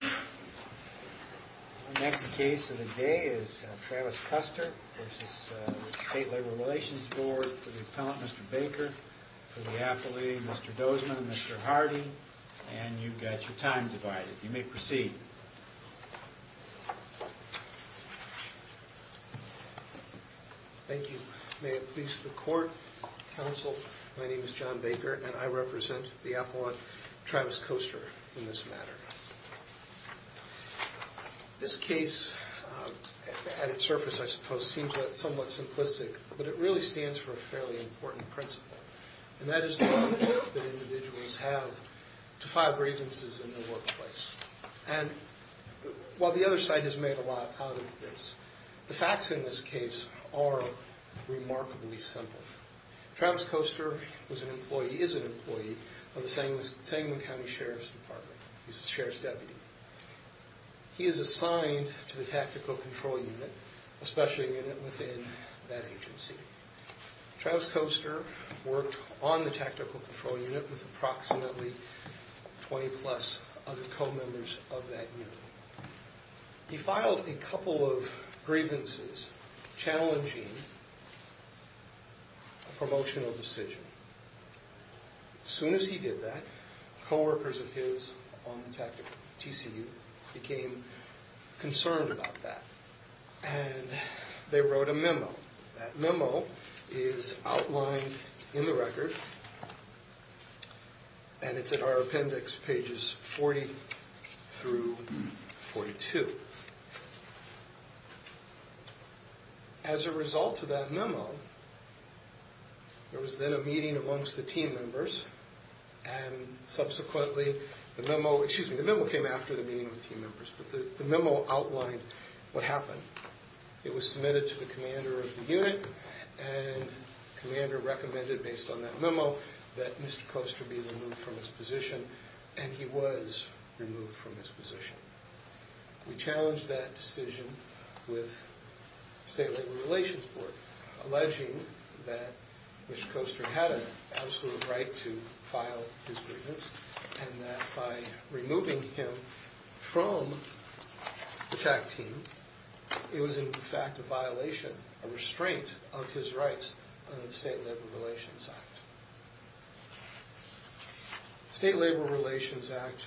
The next case of the day is Travis Koester v. State Labor Relations Board for the appellant Mr. Baker, for the appellee Mr. Dozman and Mr. Hardy. And you've got your time divided. You may proceed. Thank you. May it please the court, counsel, my name is John Baker and I represent the appellant Travis Koester in this matter. This case, at its surface I suppose, seems somewhat simplistic, but it really stands for a fairly important principle. And that is the right that individuals have to file grievances in the workplace. And while the other side has made a lot out of this, the facts in this case are remarkably simple. Travis Koester is an employee of the Sangamon County Sheriff's Department. He's a sheriff's deputy. He is assigned to the tactical control unit, a special unit within that agency. Travis Koester worked on the tactical control unit with approximately 20 plus other co-members of that unit. He filed a couple of grievances challenging a promotional decision. As soon as he did that, co-workers of his on the tactical TCU became concerned about that. That memo is outlined in the record, and it's in our appendix, pages 40 through 42. As a result of that memo, there was then a meeting amongst the team members, and subsequently the memo, excuse me, the memo came after the meeting with team members, but the memo outlined what happened. It was submitted to the commander of the unit, and the commander recommended, based on that memo, that Mr. Koester be removed from his position, and he was removed from his position. We challenged that decision with the state labor relations board, alleging that Mr. Koester had an absolute right to file his grievance, and that by removing him from the TAC team, it was in fact a violation, a restraint of his rights under the state labor relations act. The state labor relations act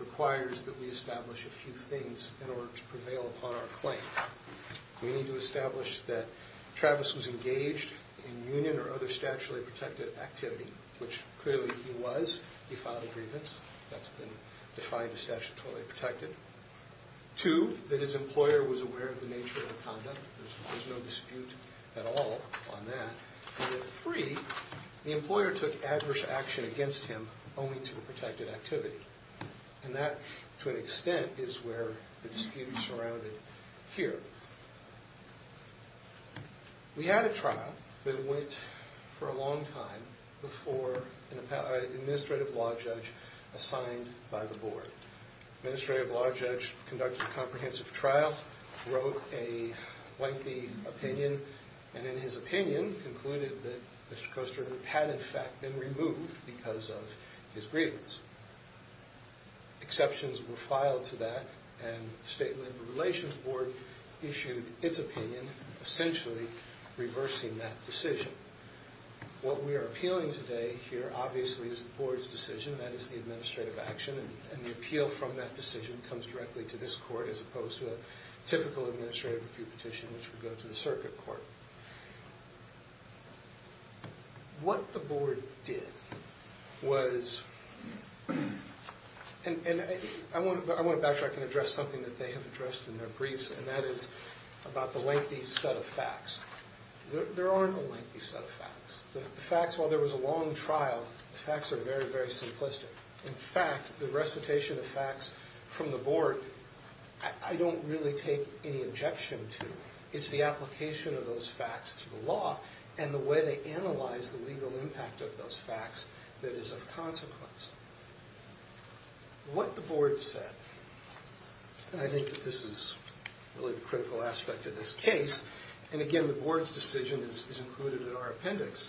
requires that we establish a few things in order to prevail upon our claim. We need to establish that Travis was engaged in union or other statuary protected activity, which clearly he was. He filed a grievance. That's been defined as statuary protected. Two, that his employer was aware of the nature of the conduct. There's no dispute at all on that. And then three, the employer took adverse action against him owing to a protected activity. And that, to an extent, is where the dispute is surrounded here. We had a trial that went for a long time before an administrative law judge assigned by the board. Administrative law judge conducted a comprehensive trial, wrote a lengthy opinion, and in his opinion concluded that Mr. Koester had in fact been removed because of his grievance. Exceptions were filed to that, and the state labor relations board issued its opinion, essentially reversing that decision. What we are appealing today here obviously is the board's decision, that is the administrative action, and the appeal from that decision comes directly to this court as opposed to a typical administrative review petition which would go to the circuit court. What the board did was, and I want to backtrack and address something that they have addressed in their briefs, and that is about the lengthy set of facts. There aren't a lengthy set of facts. The facts, while there was a long trial, the facts are very, very simplistic. In fact, the recitation of facts from the board, I don't really take any objection to. It's the application of those facts to the law and the way they analyze the legal impact of those facts that is of consequence. What the board said, and I think that this is really the critical aspect of this case, and again the board's decision is included in our appendix,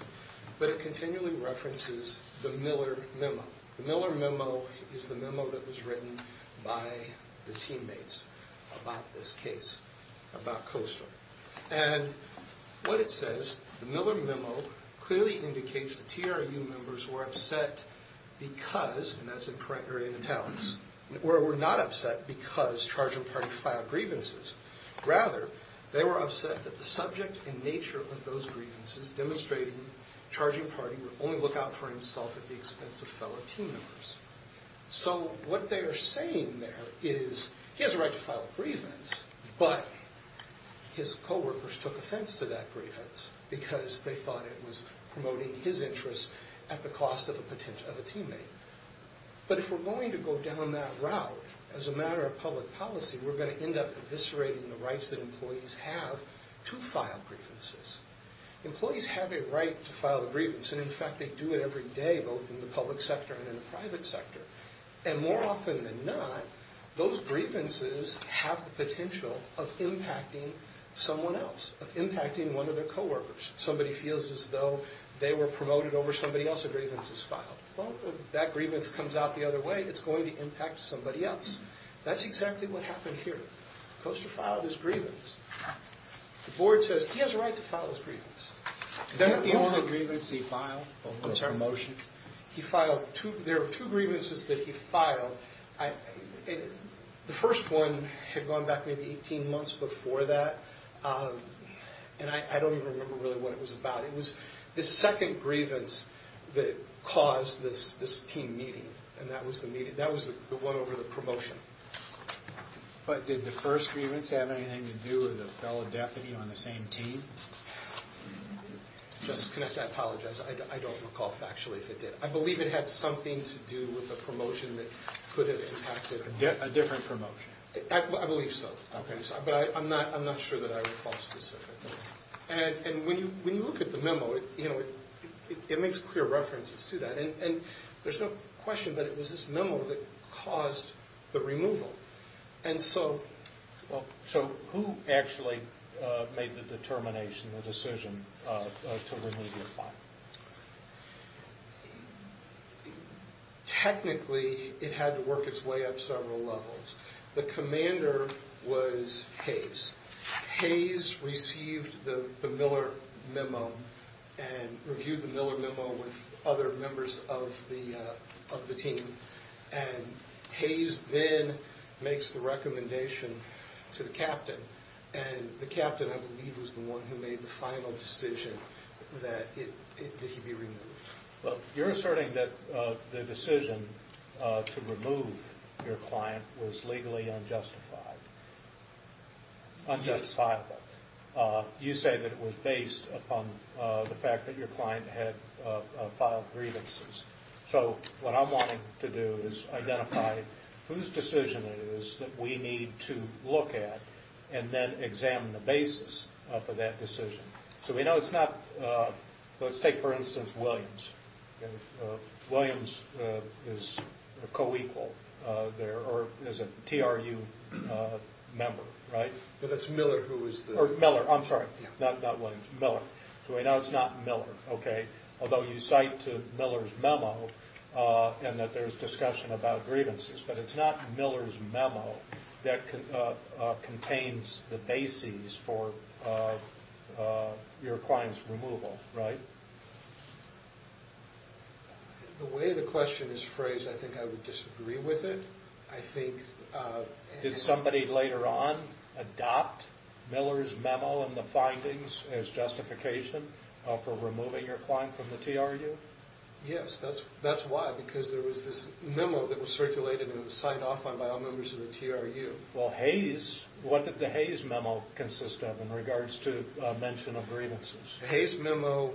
but it continually references the Miller Memo. The Miller Memo is the memo that was written by the teammates about this case, about Coaster. And what it says, the Miller Memo clearly indicates the TRU members were upset because, and that's in italics, or were not upset because charging party filed grievances. Rather, they were upset that the subject and nature of those grievances demonstrated that the charging party would only look out for himself at the expense of fellow team members. So what they are saying there is he has a right to file a grievance, but his coworkers took offense to that grievance because they thought it was promoting his interests at the cost of a teammate. But if we're going to go down that route as a matter of public policy, we're going to end up eviscerating the rights that employees have to file grievances. Employees have a right to file a grievance, and in fact they do it every day, both in the public sector and in the private sector. And more often than not, those grievances have the potential of impacting someone else, of impacting one of their coworkers. Somebody feels as though they were promoted over somebody else's grievances filed. Well, if that grievance comes out the other way, it's going to impact somebody else. That's exactly what happened here. Coaster filed his grievance. The board says he has a right to file his grievance. Is that the only grievance he filed? Promotion? He filed two. There are two grievances that he filed. The first one had gone back maybe 18 months before that, and I don't even remember really what it was about. It was the second grievance that caused this team meeting, and that was the meeting. That was the one over the promotion. But did the first grievance have anything to do with a fellow deputy on the same team? I apologize. I don't recall factually if it did. I believe it had something to do with a promotion that could have impacted a different promotion. I believe so. But I'm not sure that I would call it specific. And when you look at the memo, it makes clear references to that. There's no question that it was this memo that caused the removal. So who actually made the determination, the decision, to remove your file? Technically, it had to work its way up several levels. The commander was Hayes. Hayes received the Miller memo and reviewed the Miller memo with other members of the team. And Hayes then makes the recommendation to the captain. And the captain, I believe, was the one who made the final decision that it should be removed. You're asserting that the decision to remove your client was legally unjustified. Unjustifiable. You say that it was based upon the fact that your client had filed grievances. So what I'm wanting to do is identify whose decision it is that we need to look at and then examine the basis for that decision. So we know it's not – let's take, for instance, Williams. Williams is a co-equal there, or is a TRU member, right? That's Miller who is the – Miller, I'm sorry. Not Williams. Miller. So we know it's not Miller, okay? Although you cite Miller's memo and that there's discussion about grievances. But it's not Miller's memo that contains the basis for your client's removal, right? The way the question is phrased, I think I would disagree with it. I think – Did somebody later on adopt Miller's memo and the findings as justification for removing your client from the TRU? Yes, that's why, because there was this memo that was circulated and it was signed off on by all members of the TRU. Well, Hayes – what did the Hayes memo consist of in regards to mention of grievances? The Hayes memo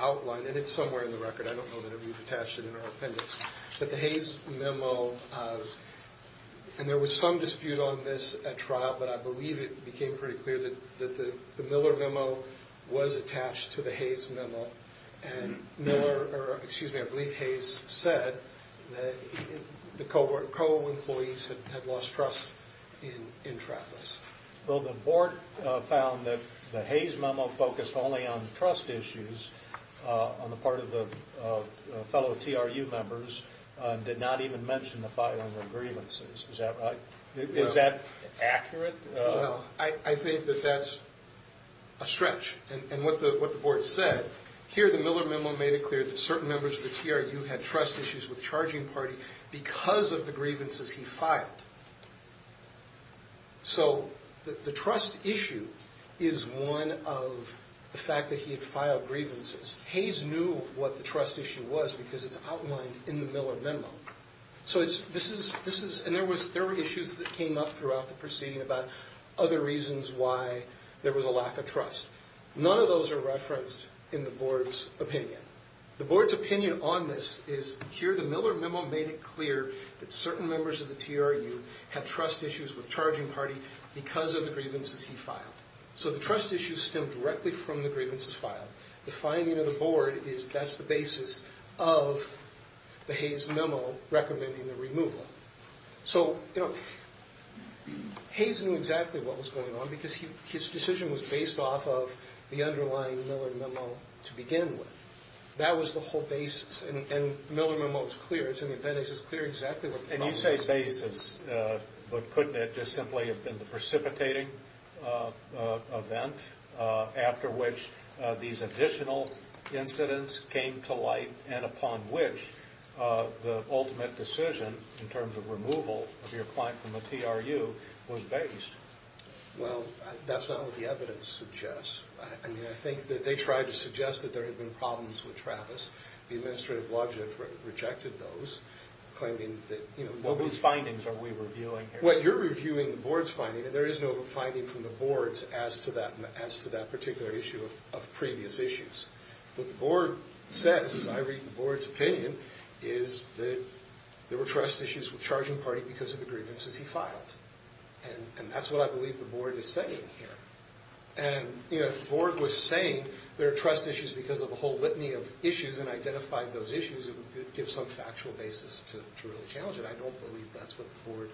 outlined – and it's somewhere in the record. I don't know that we've attached it in our appendix. But the Hayes memo – and there was some dispute on this at trial, but I believe it became pretty clear that the Miller memo was attached to the Hayes memo. And Miller – or, excuse me, I believe Hayes said that the co-employees had lost trust in Travis. Well, the board found that the Hayes memo focused only on the trust issues on the part of the fellow TRU members and did not even mention the filing of grievances. Is that right? Is that accurate? Well, I think that that's a stretch. And what the board said, here the Miller memo made it clear that certain members of the TRU had trust issues with charging party because of the grievances he filed. So the trust issue is one of the fact that he had filed grievances. Hayes knew what the trust issue was because it's outlined in the Miller memo. So this is – and there were issues that came up throughout the proceeding about other reasons why there was a lack of trust. None of those are referenced in the board's opinion. The board's opinion on this is, here the Miller memo made it clear that certain members of the TRU had trust issues with charging party because of the grievances he filed. So the trust issue stemmed directly from the grievances filed. The finding of the board is that's the basis of the Hayes memo recommending the removal. So, you know, Hayes knew exactly what was going on because his decision was based off of the underlying Miller memo to begin with. That was the whole basis. Yes, and the Miller memo is clear. It's in the appendix. It's clear exactly what the problem was. And you say basis, but couldn't it just simply have been the precipitating event after which these additional incidents came to light and upon which the ultimate decision in terms of removal of your client from the TRU was based? Well, that's not what the evidence suggests. I mean, I think that they tried to suggest that there had been problems with Travis. The administrative logic rejected those, claiming that, you know, What was findings are we reviewing here? Well, you're reviewing the board's finding, and there is no finding from the board's as to that particular issue of previous issues. What the board says, as I read the board's opinion, is that there were trust issues with charging party because of the grievances he filed. And that's what I believe the board is saying here. And, you know, the board was saying there are trust issues because of a whole litany of issues and identified those issues that would give some factual basis to really challenge it. I don't believe that's what the board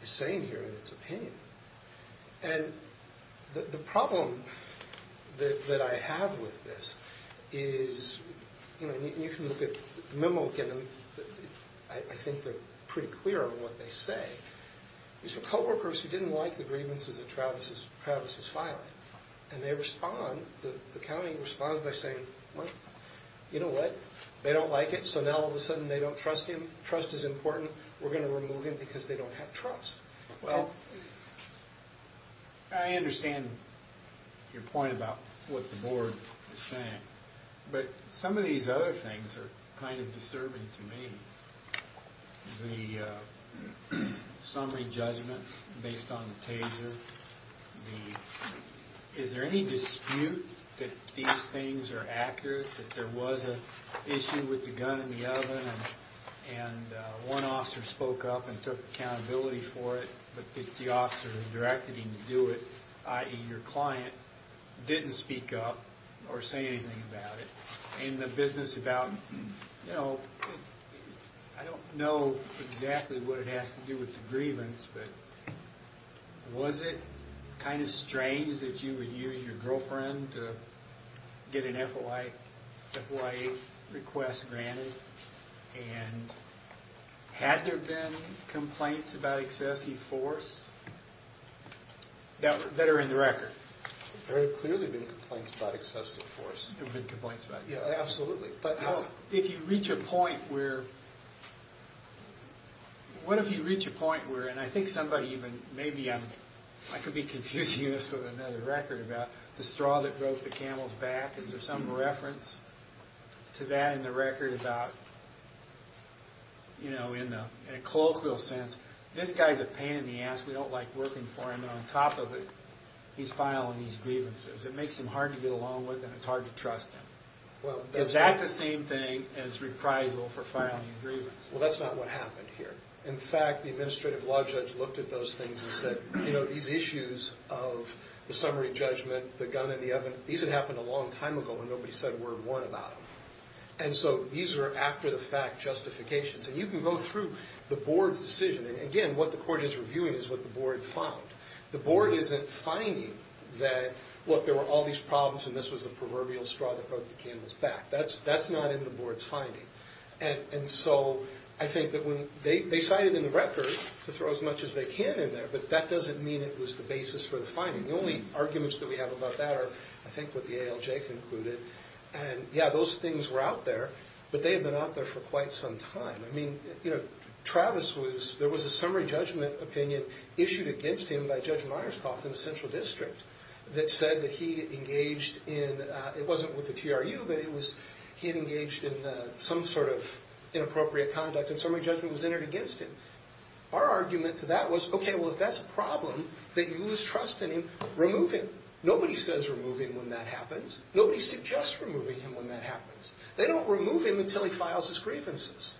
is saying here in its opinion. And the problem that I have with this is, you know, and you can look at the memo again. I think they're pretty clear on what they say. These were co-workers who didn't like the grievances that Travis was filing. And they respond, the county responds by saying, You know what? They don't like it. So now all of a sudden they don't trust him. Trust is important. We're going to remove him because they don't have trust. Well, I understand your point about what the board is saying. But some of these other things are kind of disturbing to me. The summary judgment based on the taser. Is there any dispute that these things are accurate, that there was an issue with the gun in the oven and one officer spoke up and took accountability for it, but the officer who directed him to do it, i.e., your client, didn't speak up or say anything about it. In the business about, you know, I don't know exactly what it has to do with the grievance, but was it kind of strange that you would use your girlfriend to get an FOIA request granted? And had there been complaints about excessive force that are in the record? There have very clearly been complaints about excessive force. There have been complaints about it. Yeah, absolutely. But if you reach a point where, what if you reach a point where, and I think somebody even, maybe I could be confusing this with another record about the straw that broke the camel's back. Is there some reference to that in the record about, you know, in a colloquial sense, this guy's a pain in the ass, we don't like working for him, and on top of it, he's filing these grievances. It makes him hard to get along with and it's hard to trust him. Is that the same thing as reprisal for filing grievance? Well, that's not what happened here. In fact, the administrative law judge looked at those things and said, you know, these issues of the summary judgment, the gun in the oven, these had happened a long time ago when nobody said word one about them. And so these are after-the-fact justifications. And you can go through the board's decision, and again, what the court is reviewing is what the board found. The board isn't finding that, look, there were all these problems and this was the proverbial straw that broke the camel's back. That's not in the board's finding. And so I think that when they cited in the record to throw as much as they can in there, but that doesn't mean it was the basis for the finding. The only arguments that we have about that are, I think, what the ALJ concluded. And, yeah, those things were out there, but they had been out there for quite some time. I mean, you know, Travis was, there was a summary judgment opinion issued against him by Judge Myerscough in the Central District that said that he engaged in, it wasn't with the TRU, but he had engaged in some sort of inappropriate conduct, and summary judgment was entered against him. Our argument to that was, okay, well, if that's a problem, that you lose trust in him, remove him. Nobody says remove him when that happens. Nobody suggests removing him when that happens. They don't remove him until he files his grievances.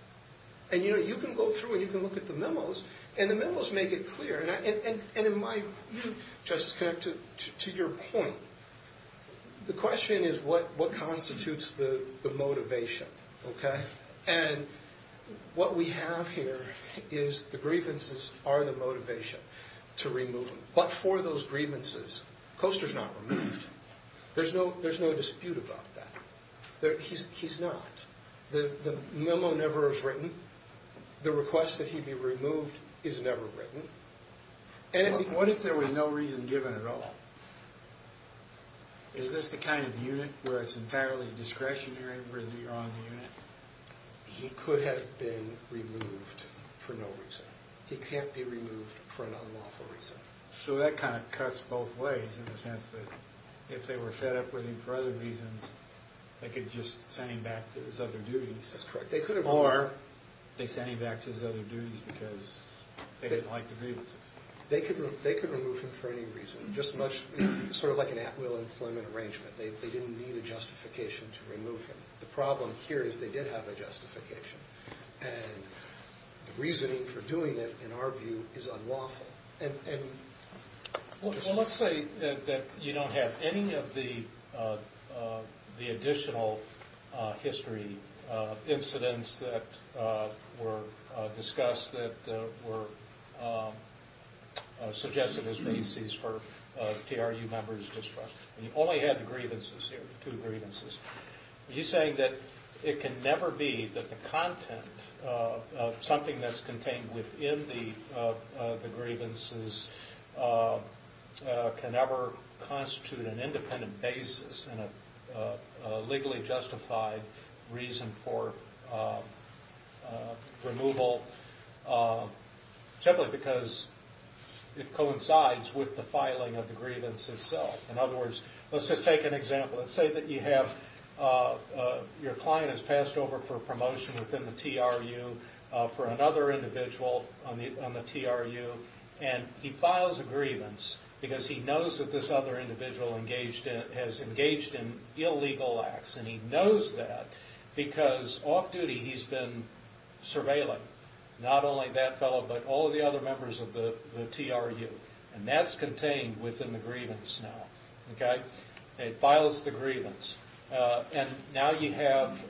And, you know, you can go through and you can look at the memos, and the memos make it clear, and in my view, Justice Connick, to your point, the question is what constitutes the motivation, okay? And what we have here is the grievances are the motivation to remove him. But for those grievances, Coaster's not removed. There's no dispute about that. He's not. The memo never was written. The request that he be removed is never written. What if there was no reason given at all? Is this the kind of unit where it's entirely discretionary or on the unit? He could have been removed for no reason. He can't be removed for an unlawful reason. So that kind of cuts both ways in the sense that if they were fed up with him for other reasons, they could just send him back to his other duties. That's correct. Or they send him back to his other duties because they didn't like the grievances. They could remove him for any reason, just much sort of like an at-will employment arrangement. They didn't need a justification to remove him. The problem here is they did have a justification. And the reasoning for doing it, in our view, is unlawful. Well, let's say that you don't have any of the additional history incidents that were discussed that were suggested as bases for TRU members' discretion. You only had the grievances here, two grievances. Are you saying that it can never be that the content of something that's contained within the grievances can ever constitute an independent basis in a legally justified reason for removal, simply because it coincides with the filing of the grievance itself? In other words, let's just take an example. Let's say that your client has passed over for a promotion within the TRU for another individual on the TRU, and he files a grievance because he knows that this other individual has engaged in illegal acts. And he knows that because off-duty he's been surveilling not only that fellow but all of the other members of the TRU. And that's contained within the grievance now. Okay? It files the grievance. And now you have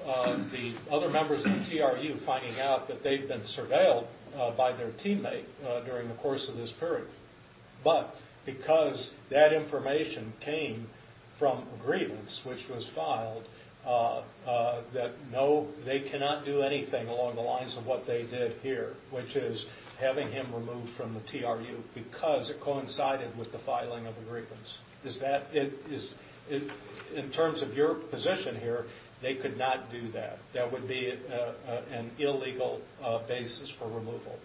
the other members of the TRU finding out that they've been surveilled by their teammate during the course of this period. But because that information came from a grievance which was filed, that no, they cannot do anything along the lines of what they did here, which is having him removed from the TRU because it coincided with the filing of the grievance. In terms of your position here, they could not do that. That would be an illegal basis for removal.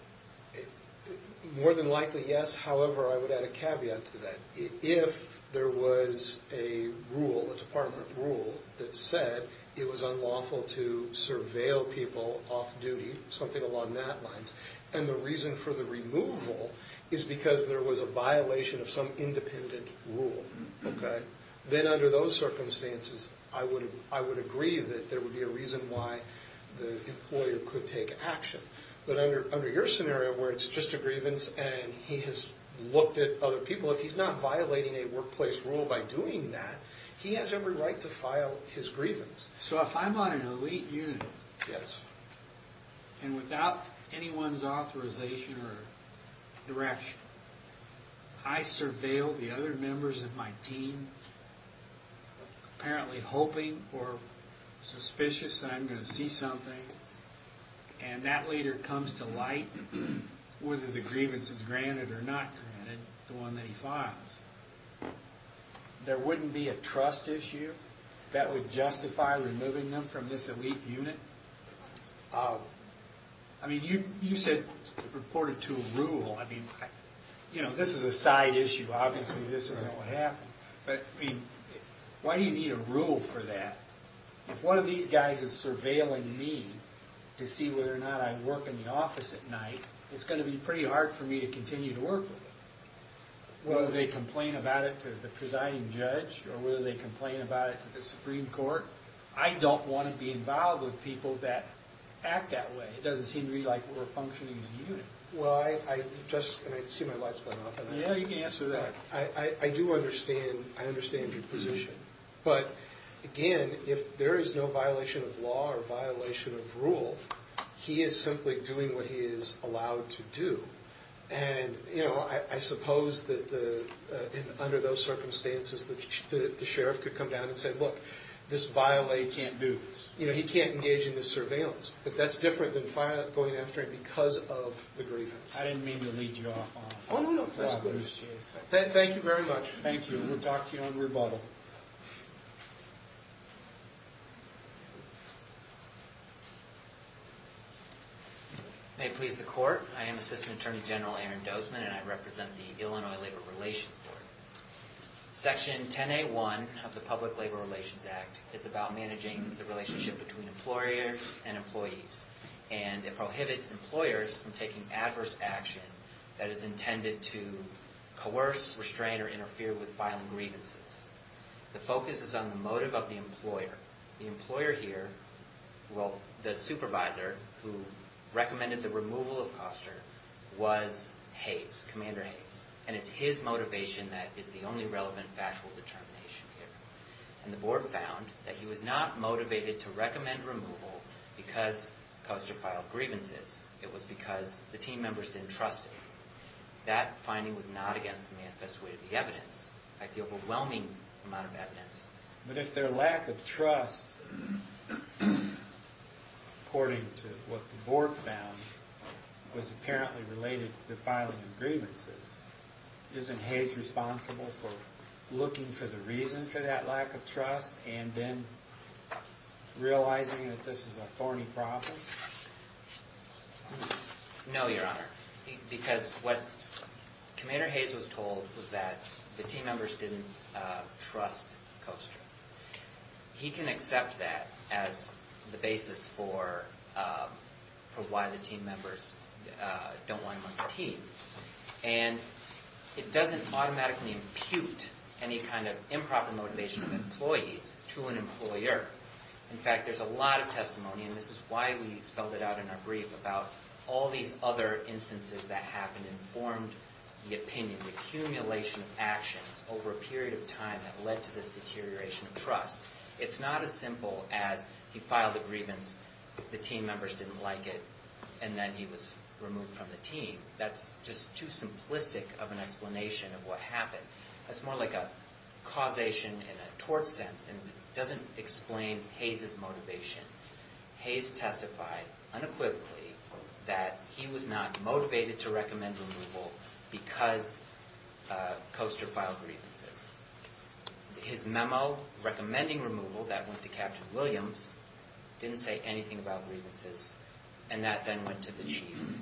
More than likely, yes. However, I would add a caveat to that. If there was a rule, a department rule that said it was unlawful to surveil people off-duty, something along that lines, and the reason for the removal is because there was a violation of some independent rule, okay, then under those circumstances I would agree that there would be a reason why the employer could take action. But under your scenario where it's just a grievance and he has looked at other people, if he's not violating a workplace rule by doing that, he has every right to file his grievance. So if I'm on an elite unit, and without anyone's authorization or direction, I surveil the other members of my team, apparently hoping or suspicious that I'm going to see something, and that leader comes to light, whether the grievance is granted or not granted, the one that he files, there wouldn't be a trust issue that would justify removing them from this elite unit? I mean, you said it purported to a rule. I mean, you know, this is a side issue. Obviously, this isn't what happened. But, I mean, why do you need a rule for that? If one of these guys is surveilling me to see whether or not I work in the office at night, it's going to be pretty hard for me to continue to work with them. Whether they complain about it to the presiding judge or whether they complain about it to the Supreme Court, I don't want to be involved with people that act that way. It doesn't seem to me like we're functioning as a unit. Well, I just, and I see my light's going off. Yeah, you can answer that. I do understand, I understand your position. But, again, if there is no violation of law or violation of rule, he is simply doing what he is allowed to do. And, you know, I suppose that under those circumstances, the sheriff could come down and say, look, this violates. He can't do this. You know, he can't engage in this surveillance. But that's different than going after it because of the grievance. I didn't mean to lead you off on that. Oh, no, no. Thank you very much. Thank you. We'll talk to you on rebuttal. May it please the court. I am Assistant Attorney General Aaron Dozman, and I represent the Illinois Labor Relations Board. Section 10A1 of the Public Labor Relations Act is about managing the relationship between employers and employees. And it prohibits employers from taking adverse action that is intended to coerce, restrain, or interfere with filing grievances. The focus is on the motive of the employer. The employer here, well, the supervisor who recommended the removal of Koster was Hayes, Commander Hayes. And it's his motivation that is the only relevant factual determination here. And the board found that he was not motivated to recommend removal because Koster filed grievances. It was because the team members didn't trust him. That finding was not against the manifest way of the evidence, the overwhelming amount of evidence. But if their lack of trust, according to what the board found, was apparently related to the filing of grievances, isn't Hayes responsible for looking for the reason for that lack of trust and then realizing that this is a thorny problem? No, Your Honor. Because what Commander Hayes was told was that the team members didn't trust Koster. He can accept that as the basis for why the team members don't want him on the team. And it doesn't automatically impute any kind of improper motivation of employees to an employer. In fact, there's a lot of testimony, and this is why we spelled it out in our brief, about all these other instances that happened and formed the opinion, the accumulation of actions over a period of time that led to this deterioration of trust. It's not as simple as he filed a grievance, the team members didn't like it, and then he was removed from the team. That's just too simplistic of an explanation of what happened. That's more like a causation in a tort sense, and it doesn't explain Hayes' motivation. Hayes testified unequivocally that he was not motivated to recommend removal because Koster filed grievances. His memo recommending removal, that went to Captain Williams, didn't say anything about grievances, and that then went to the chief,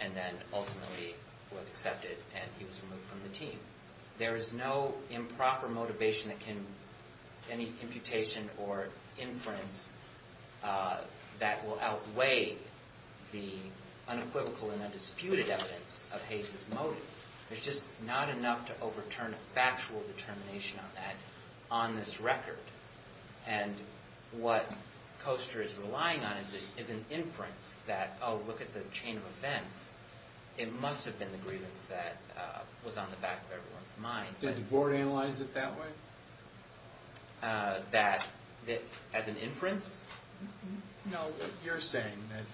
and then ultimately was accepted, and he was removed from the team. There is no improper motivation that can, any imputation or inference that will outweigh the unequivocal and undisputed evidence of Hayes' motive. There's just not enough to overturn a factual determination on that, on this record. And what Koster is relying on is an inference that, oh, look at the chain of events. It must have been the grievance that was on the back of everyone's mind. Did the board analyze it that way? That, as an inference? No, you're saying that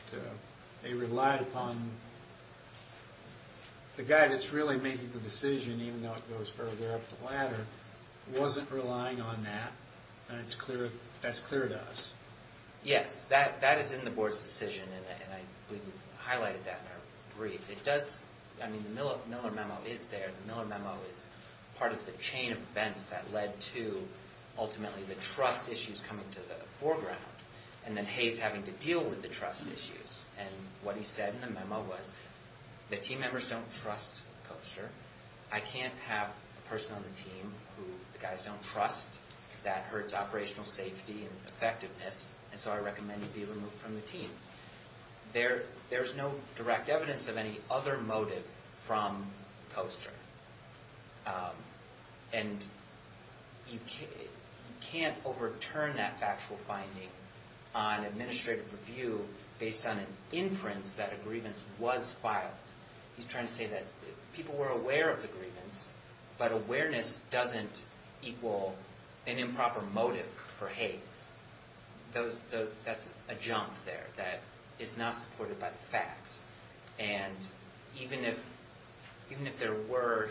they relied upon, the guy that's really making the decision, even though it goes further up the ladder, wasn't relying on that, and that's clear to us? Yes, that is in the board's decision, and I believe we've highlighted that in our brief. It does, I mean, the Miller memo is there. The Miller memo is part of the chain of events that led to, ultimately, the trust issues coming to the foreground, and then Hayes having to deal with the trust issues. And what he said in the memo was, the team members don't trust Koster. I can't have a person on the team who the guys don't trust. That hurts operational safety and effectiveness, and so I recommend you be removed from the team. There's no direct evidence of any other motive from Koster. And you can't overturn that factual finding on administrative review based on an inference that a grievance was filed. He's trying to say that people were aware of the grievance, but awareness doesn't equal an improper motive for Hayes. That's a jump there, that it's not supported by the facts. And even if there were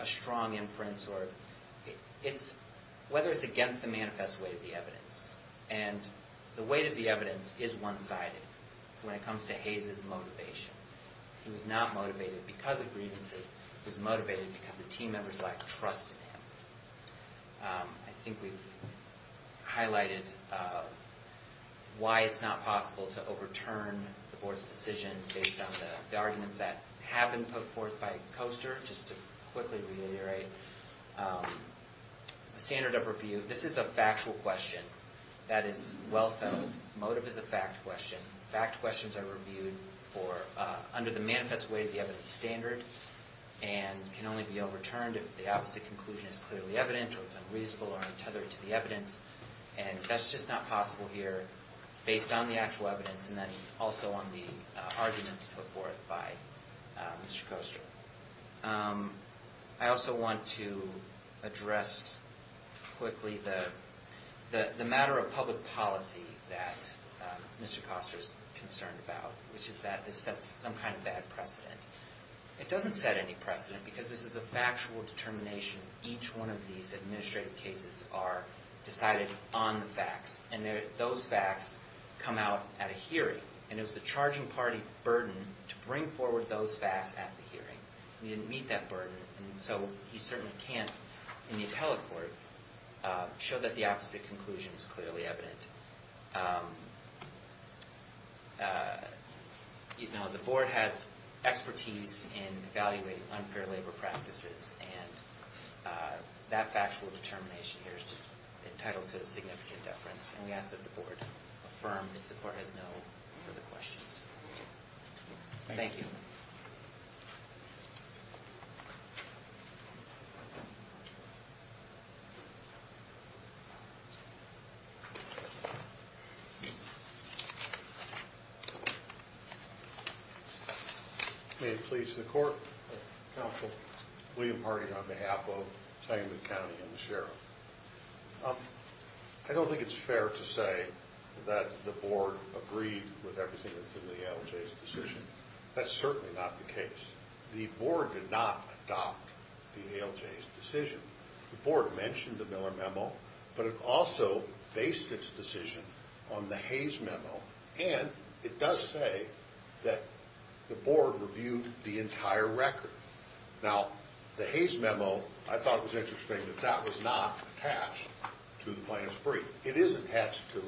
a strong inference, whether it's against the manifest way of the evidence, and the weight of the evidence is one-sided when it comes to Hayes' motivation. He was not motivated because of grievances. He was motivated because the team members lacked trust in him. I think we've highlighted why it's not possible to overturn the board's decision based on the arguments that have been put forth by Koster. Just to quickly reiterate, the standard of review, this is a factual question. That is well-sounded. Motive is a fact question. Fact questions are reviewed under the manifest way of the evidence standard and can only be overturned if the opposite conclusion is clearly evident or it's unreasonable or untethered to the evidence. And that's just not possible here based on the actual evidence and then also on the arguments put forth by Mr. Koster. I also want to address quickly the matter of public policy that Mr. Koster is concerned about, which is that this sets some kind of bad precedent. It doesn't set any precedent because this is a factual determination. Each one of these administrative cases are decided on the facts, and those facts come out at a hearing. And it was the charging party's burden to bring forward those facts at the hearing. We didn't meet that burden, and so he certainly can't, in the appellate court, show that the opposite conclusion is clearly evident. The board has expertise in evaluating unfair labor practices, and that factual determination here is just entitled to a significant deference, and we ask that the board affirm if the court has no further questions. Thank you. Thank you. May it please the court. Counsel. William Harding on behalf of Tengman County and the sheriff. I don't think it's fair to say that the board agreed with everything that's in the ALJ's decision. That's certainly not the case. The board did not adopt the ALJ's decision. The board mentioned the Miller Memo, but it also based its decision on the Hayes Memo, and it does say that the board reviewed the entire record. Now, the Hayes Memo, I thought it was interesting that that was not attached to the plaintiff's brief. It is attached to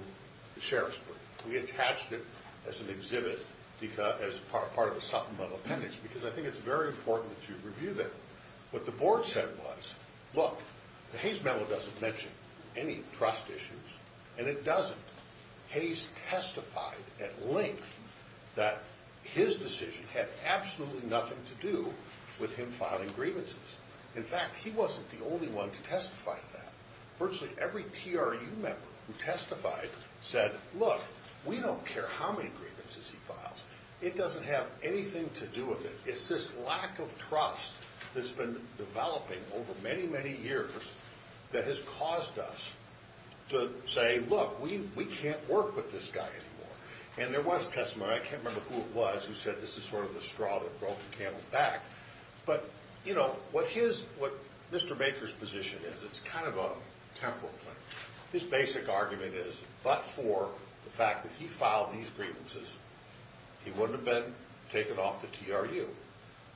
the sheriff's brief. We attached it as an exhibit as part of a supplemental appendix because I think it's very important that you review that. What the board said was, look, the Hayes Memo doesn't mention any trust issues, and it doesn't. Hayes testified at length that his decision had absolutely nothing to do with him filing grievances. In fact, he wasn't the only one to testify to that. Virtually every TRU member who testified said, look, we don't care how many grievances he files. It doesn't have anything to do with it. It's this lack of trust that's been developing over many, many years that has caused us to say, look, we can't work with this guy anymore. And there was a testimony, I can't remember who it was, who said this is sort of the straw that broke the camel's back. But, you know, what Mr. Baker's position is, it's kind of a temporal thing. His basic argument is, but for the fact that he filed these grievances, he wouldn't have been taken off the TRU.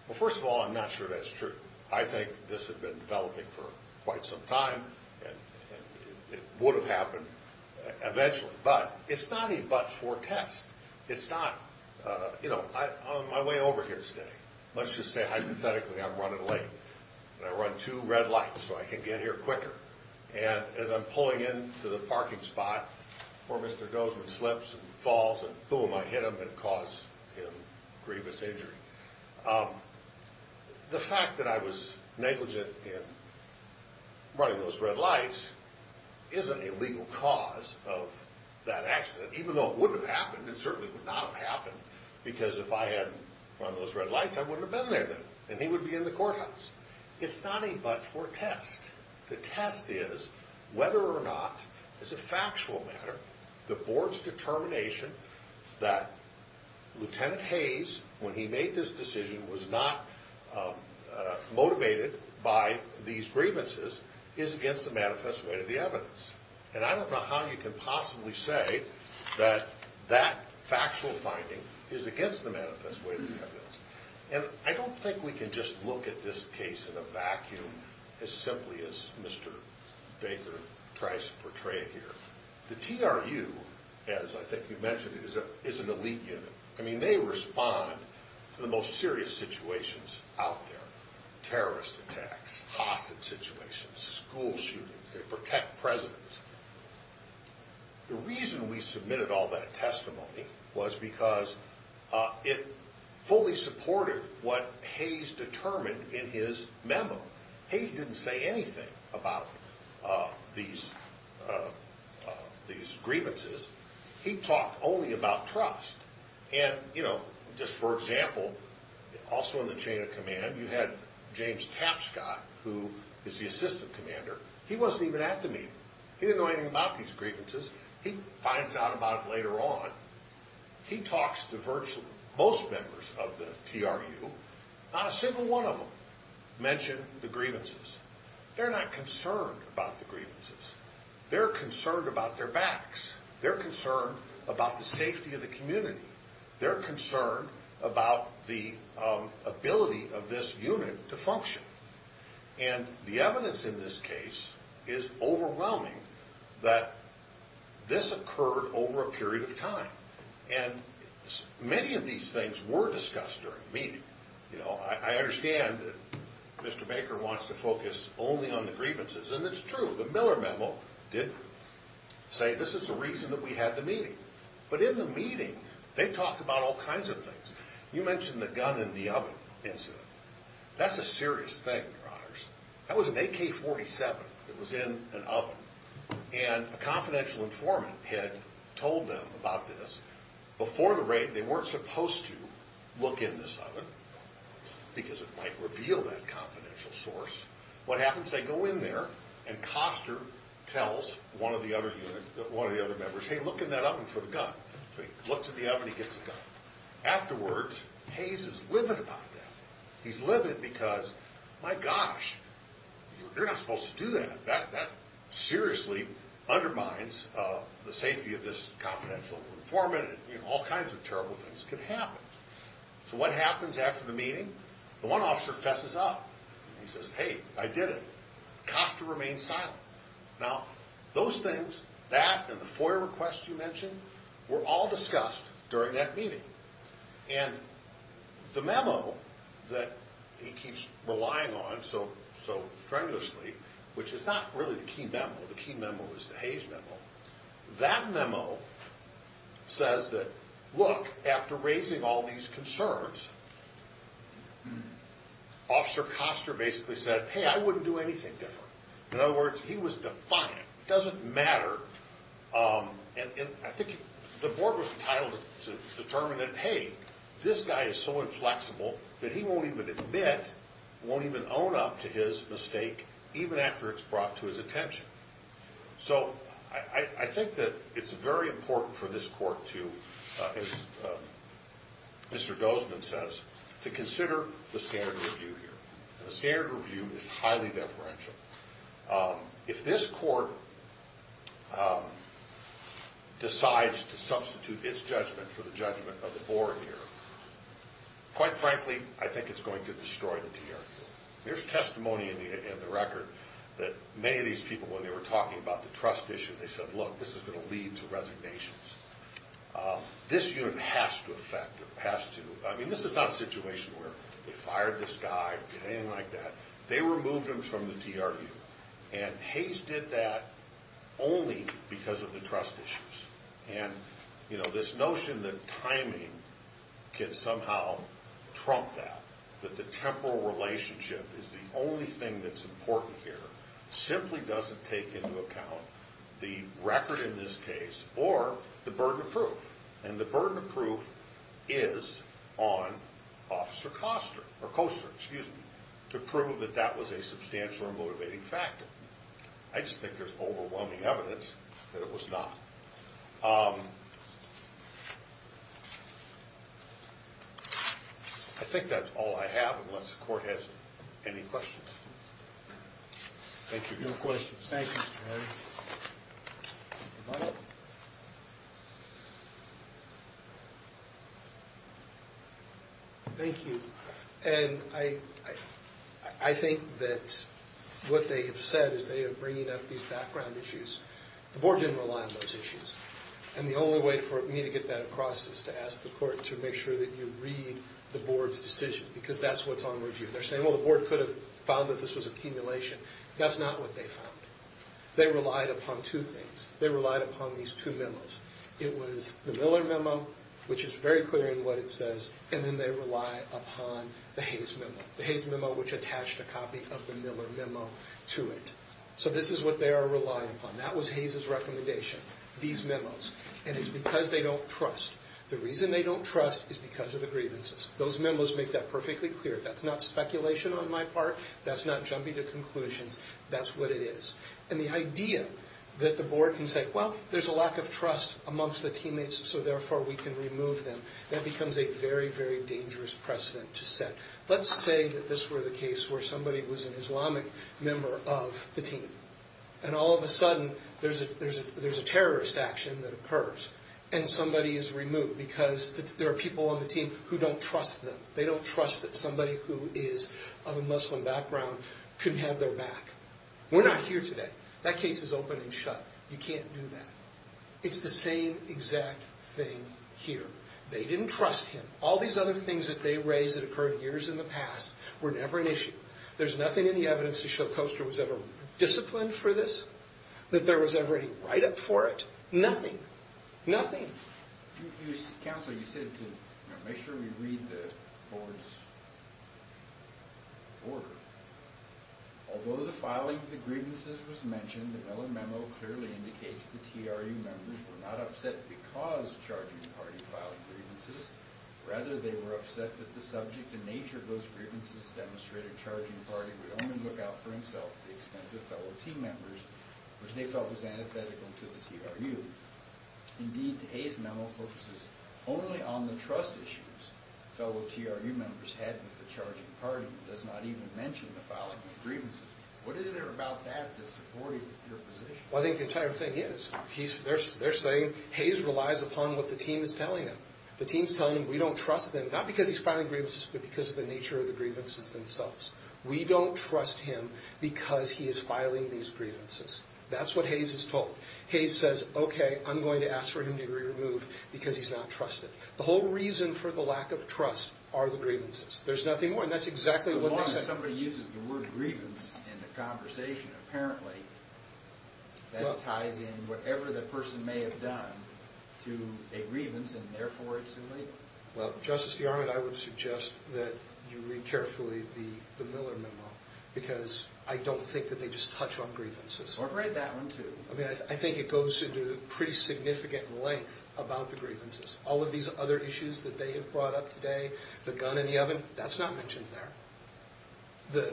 Well, first of all, I'm not sure that's true. I think this had been developing for quite some time, and it would have happened eventually. But it's not a but for test. It's not, you know, I'm on my way over here today. Let's just say hypothetically I'm running late, and I run two red lights so I can get here quicker. And as I'm pulling into the parking spot where Mr. Gozeman slips and falls, and boom, I hit him and cause him grievous injury. The fact that I was negligent in running those red lights isn't a legal cause of that accident. Even though it would have happened, it certainly would not have happened, because if I hadn't run those red lights, I wouldn't have been there then. And he would be in the courthouse. It's not a but for test. The test is whether or not, as a factual matter, the board's determination that Lieutenant Hayes, when he made this decision, was not motivated by these grievances is against the manifest way of the evidence. And I don't know how you can possibly say that that factual finding is against the manifest way of the evidence. And I don't think we can just look at this case in a vacuum as simply as Mr. Baker tries to portray it here. The TRU, as I think you mentioned, is an elite unit. I mean, they respond to the most serious situations out there, terrorist attacks, hostage situations, school shootings. They protect presidents. The reason we submitted all that testimony was because it fully supported what Hayes determined in his memo. Hayes didn't say anything about these grievances. He talked only about trust. And, you know, just for example, also in the chain of command, you had James Tapscott, who is the assistant commander. He wasn't even at the meeting. He didn't know anything about these grievances. He finds out about it later on. He talks to virtually most members of the TRU. Not a single one of them mentioned the grievances. They're not concerned about the grievances. They're concerned about their backs. They're concerned about the safety of the community. They're concerned about the ability of this unit to function. And the evidence in this case is overwhelming that this occurred over a period of time. And many of these things were discussed during the meeting. You know, I understand that Mr. Baker wants to focus only on the grievances, and it's true. The Miller memo did say this is the reason that we had the meeting. But in the meeting, they talked about all kinds of things. You mentioned the gun in the oven incident. That's a serious thing, Your Honors. That was an AK-47 that was in an oven, and a confidential informant had told them about this. Before the raid, they weren't supposed to look in this oven because it might reveal that confidential source. What happens? They go in there, and Coster tells one of the other members, hey, look in that oven for the gun. So he looks in the oven, and he gets the gun. Afterwards, Hayes is livid about that. He's livid because, my gosh, you're not supposed to do that. That seriously undermines the safety of this confidential informant, and all kinds of terrible things could happen. So what happens after the meeting? The one officer fesses up. He says, hey, I did it. Coster remains silent. Now, those things, that and the FOIA request you mentioned, were all discussed during that meeting. And the memo that he keeps relying on so strenuously, which is not really the key memo. The key memo is the Hayes memo. That memo says that, look, after raising all these concerns, Officer Coster basically said, hey, I wouldn't do anything different. In other words, he was defiant. It doesn't matter. And I think the board was entitled to determine that, hey, this guy is so inflexible that he won't even admit, won't even own up to his mistake, even after it's brought to his attention. So I think that it's very important for this court to, as Mr. Dozman says, to consider the standard review here. The standard review is highly deferential. If this court decides to substitute its judgment for the judgment of the board here, quite frankly, I think it's going to destroy the TRQ. There's testimony in the record that many of these people, when they were talking about the trust issue, they said, look, this is going to lead to resignations. This unit has to affect it, has to. I mean, this is not a situation where they fired this guy or did anything like that. They removed him from the TRQ. And Hayes did that only because of the trust issues. And, you know, this notion that timing can somehow trump that, that the temporal relationship is the only thing that's important here, simply doesn't take into account the record in this case or the burden of proof. And the burden of proof is on Officer Koster to prove that that was a substantial or motivating factor. I just think there's overwhelming evidence that it was not. I think that's all I have, unless the court has any questions. Thank you. No questions. Thank you. Thank you. And I think that what they have said is they are bringing up these background issues. The board didn't rely on those issues. And the only way for me to get that across is to ask the court to make sure that you read the board's decision, because that's what's on review. They're saying, well, the board could have found that this was accumulation. That's not what they found. They relied upon two things. They relied upon these two memos. It was the Miller memo, which is very clear in what it says, and then they rely upon the Hayes memo, the Hayes memo which attached a copy of the Miller memo to it. So this is what they are relying upon. That was Hayes' recommendation, these memos. And it's because they don't trust. The reason they don't trust is because of the grievances. Those memos make that perfectly clear. That's not speculation on my part. That's not jumping to conclusions. That's what it is. And the idea that the board can say, well, there's a lack of trust amongst the teammates, so therefore we can remove them, that becomes a very, very dangerous precedent to set. Let's say that this were the case where somebody was an Islamic member of the team, and all of a sudden there's a terrorist action that occurs, and somebody is removed because there are people on the team who don't trust them. They don't trust that somebody who is of a Muslim background can have their back. We're not here today. That case is open and shut. You can't do that. It's the same exact thing here. They didn't trust him. All these other things that they raised that occurred years in the past were never an issue. There's nothing in the evidence to show Coaster was ever disciplined for this, that there was ever a write-up for it. Nothing. Nothing. Counsel, you said to make sure we read the board's order. Although the filing of the grievances was mentioned, the Mellon memo clearly indicates the TRU members were not upset because charging party filed grievances. Rather, they were upset that the subject and nature of those grievances demonstrated charging party would only look out for himself at the expense of fellow team members, which they felt was antithetical to the TRU. Indeed, the Hayes memo focuses only on the trust issues fellow TRU members had with the charging party. It does not even mention the filing of grievances. What is there about that that supported your position? Well, I think the entire thing is they're saying Hayes relies upon what the team is telling him. The team is telling him we don't trust them, not because he's filing grievances, but because of the nature of the grievances themselves. We don't trust him because he is filing these grievances. That's what Hayes is told. Hayes says, okay, I'm going to ask for him to be removed because he's not trusted. The whole reason for the lack of trust are the grievances. There's nothing more, and that's exactly what they said. As long as somebody uses the word grievance in the conversation, apparently, that ties in whatever the person may have done to a grievance, and therefore it's illegal. Well, Justice DeArmond, I would suggest that you read carefully the Miller memo because I don't think that they just touch on grievances. Or write that one, too. I mean, I think it goes into pretty significant length about the grievances. All of these other issues that they have brought up today, the gun in the oven, that's not mentioned there.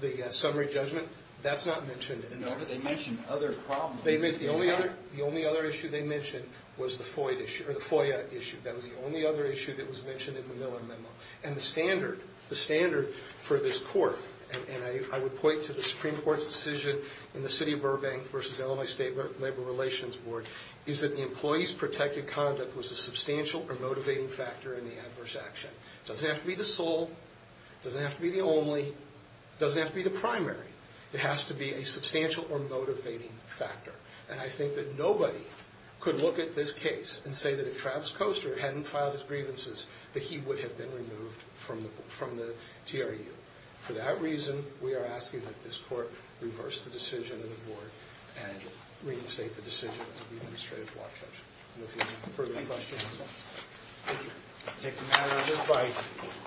The summary judgment, that's not mentioned in there. No, but they mentioned other problems. The only other issue they mentioned was the FOIA issue. That was the only other issue that was mentioned in the Miller memo. And the standard for this court, and I would point to the Supreme Court's decision in the City of Burbank versus Illinois State Labor Relations Board, is that the employee's protected conduct was a substantial or motivating factor in the adverse action. It doesn't have to be the sole, it doesn't have to be the only, it doesn't have to be the primary. It has to be a substantial or motivating factor. And I think that nobody could look at this case and say that if Travis Coaster hadn't filed his grievances that he would have been removed from the TRU. For that reason, we are asking that this court reverse the decision of the board and reinstate the decision of the administrative block judge. No further questions? Thank you. We'll take a matter of goodbye.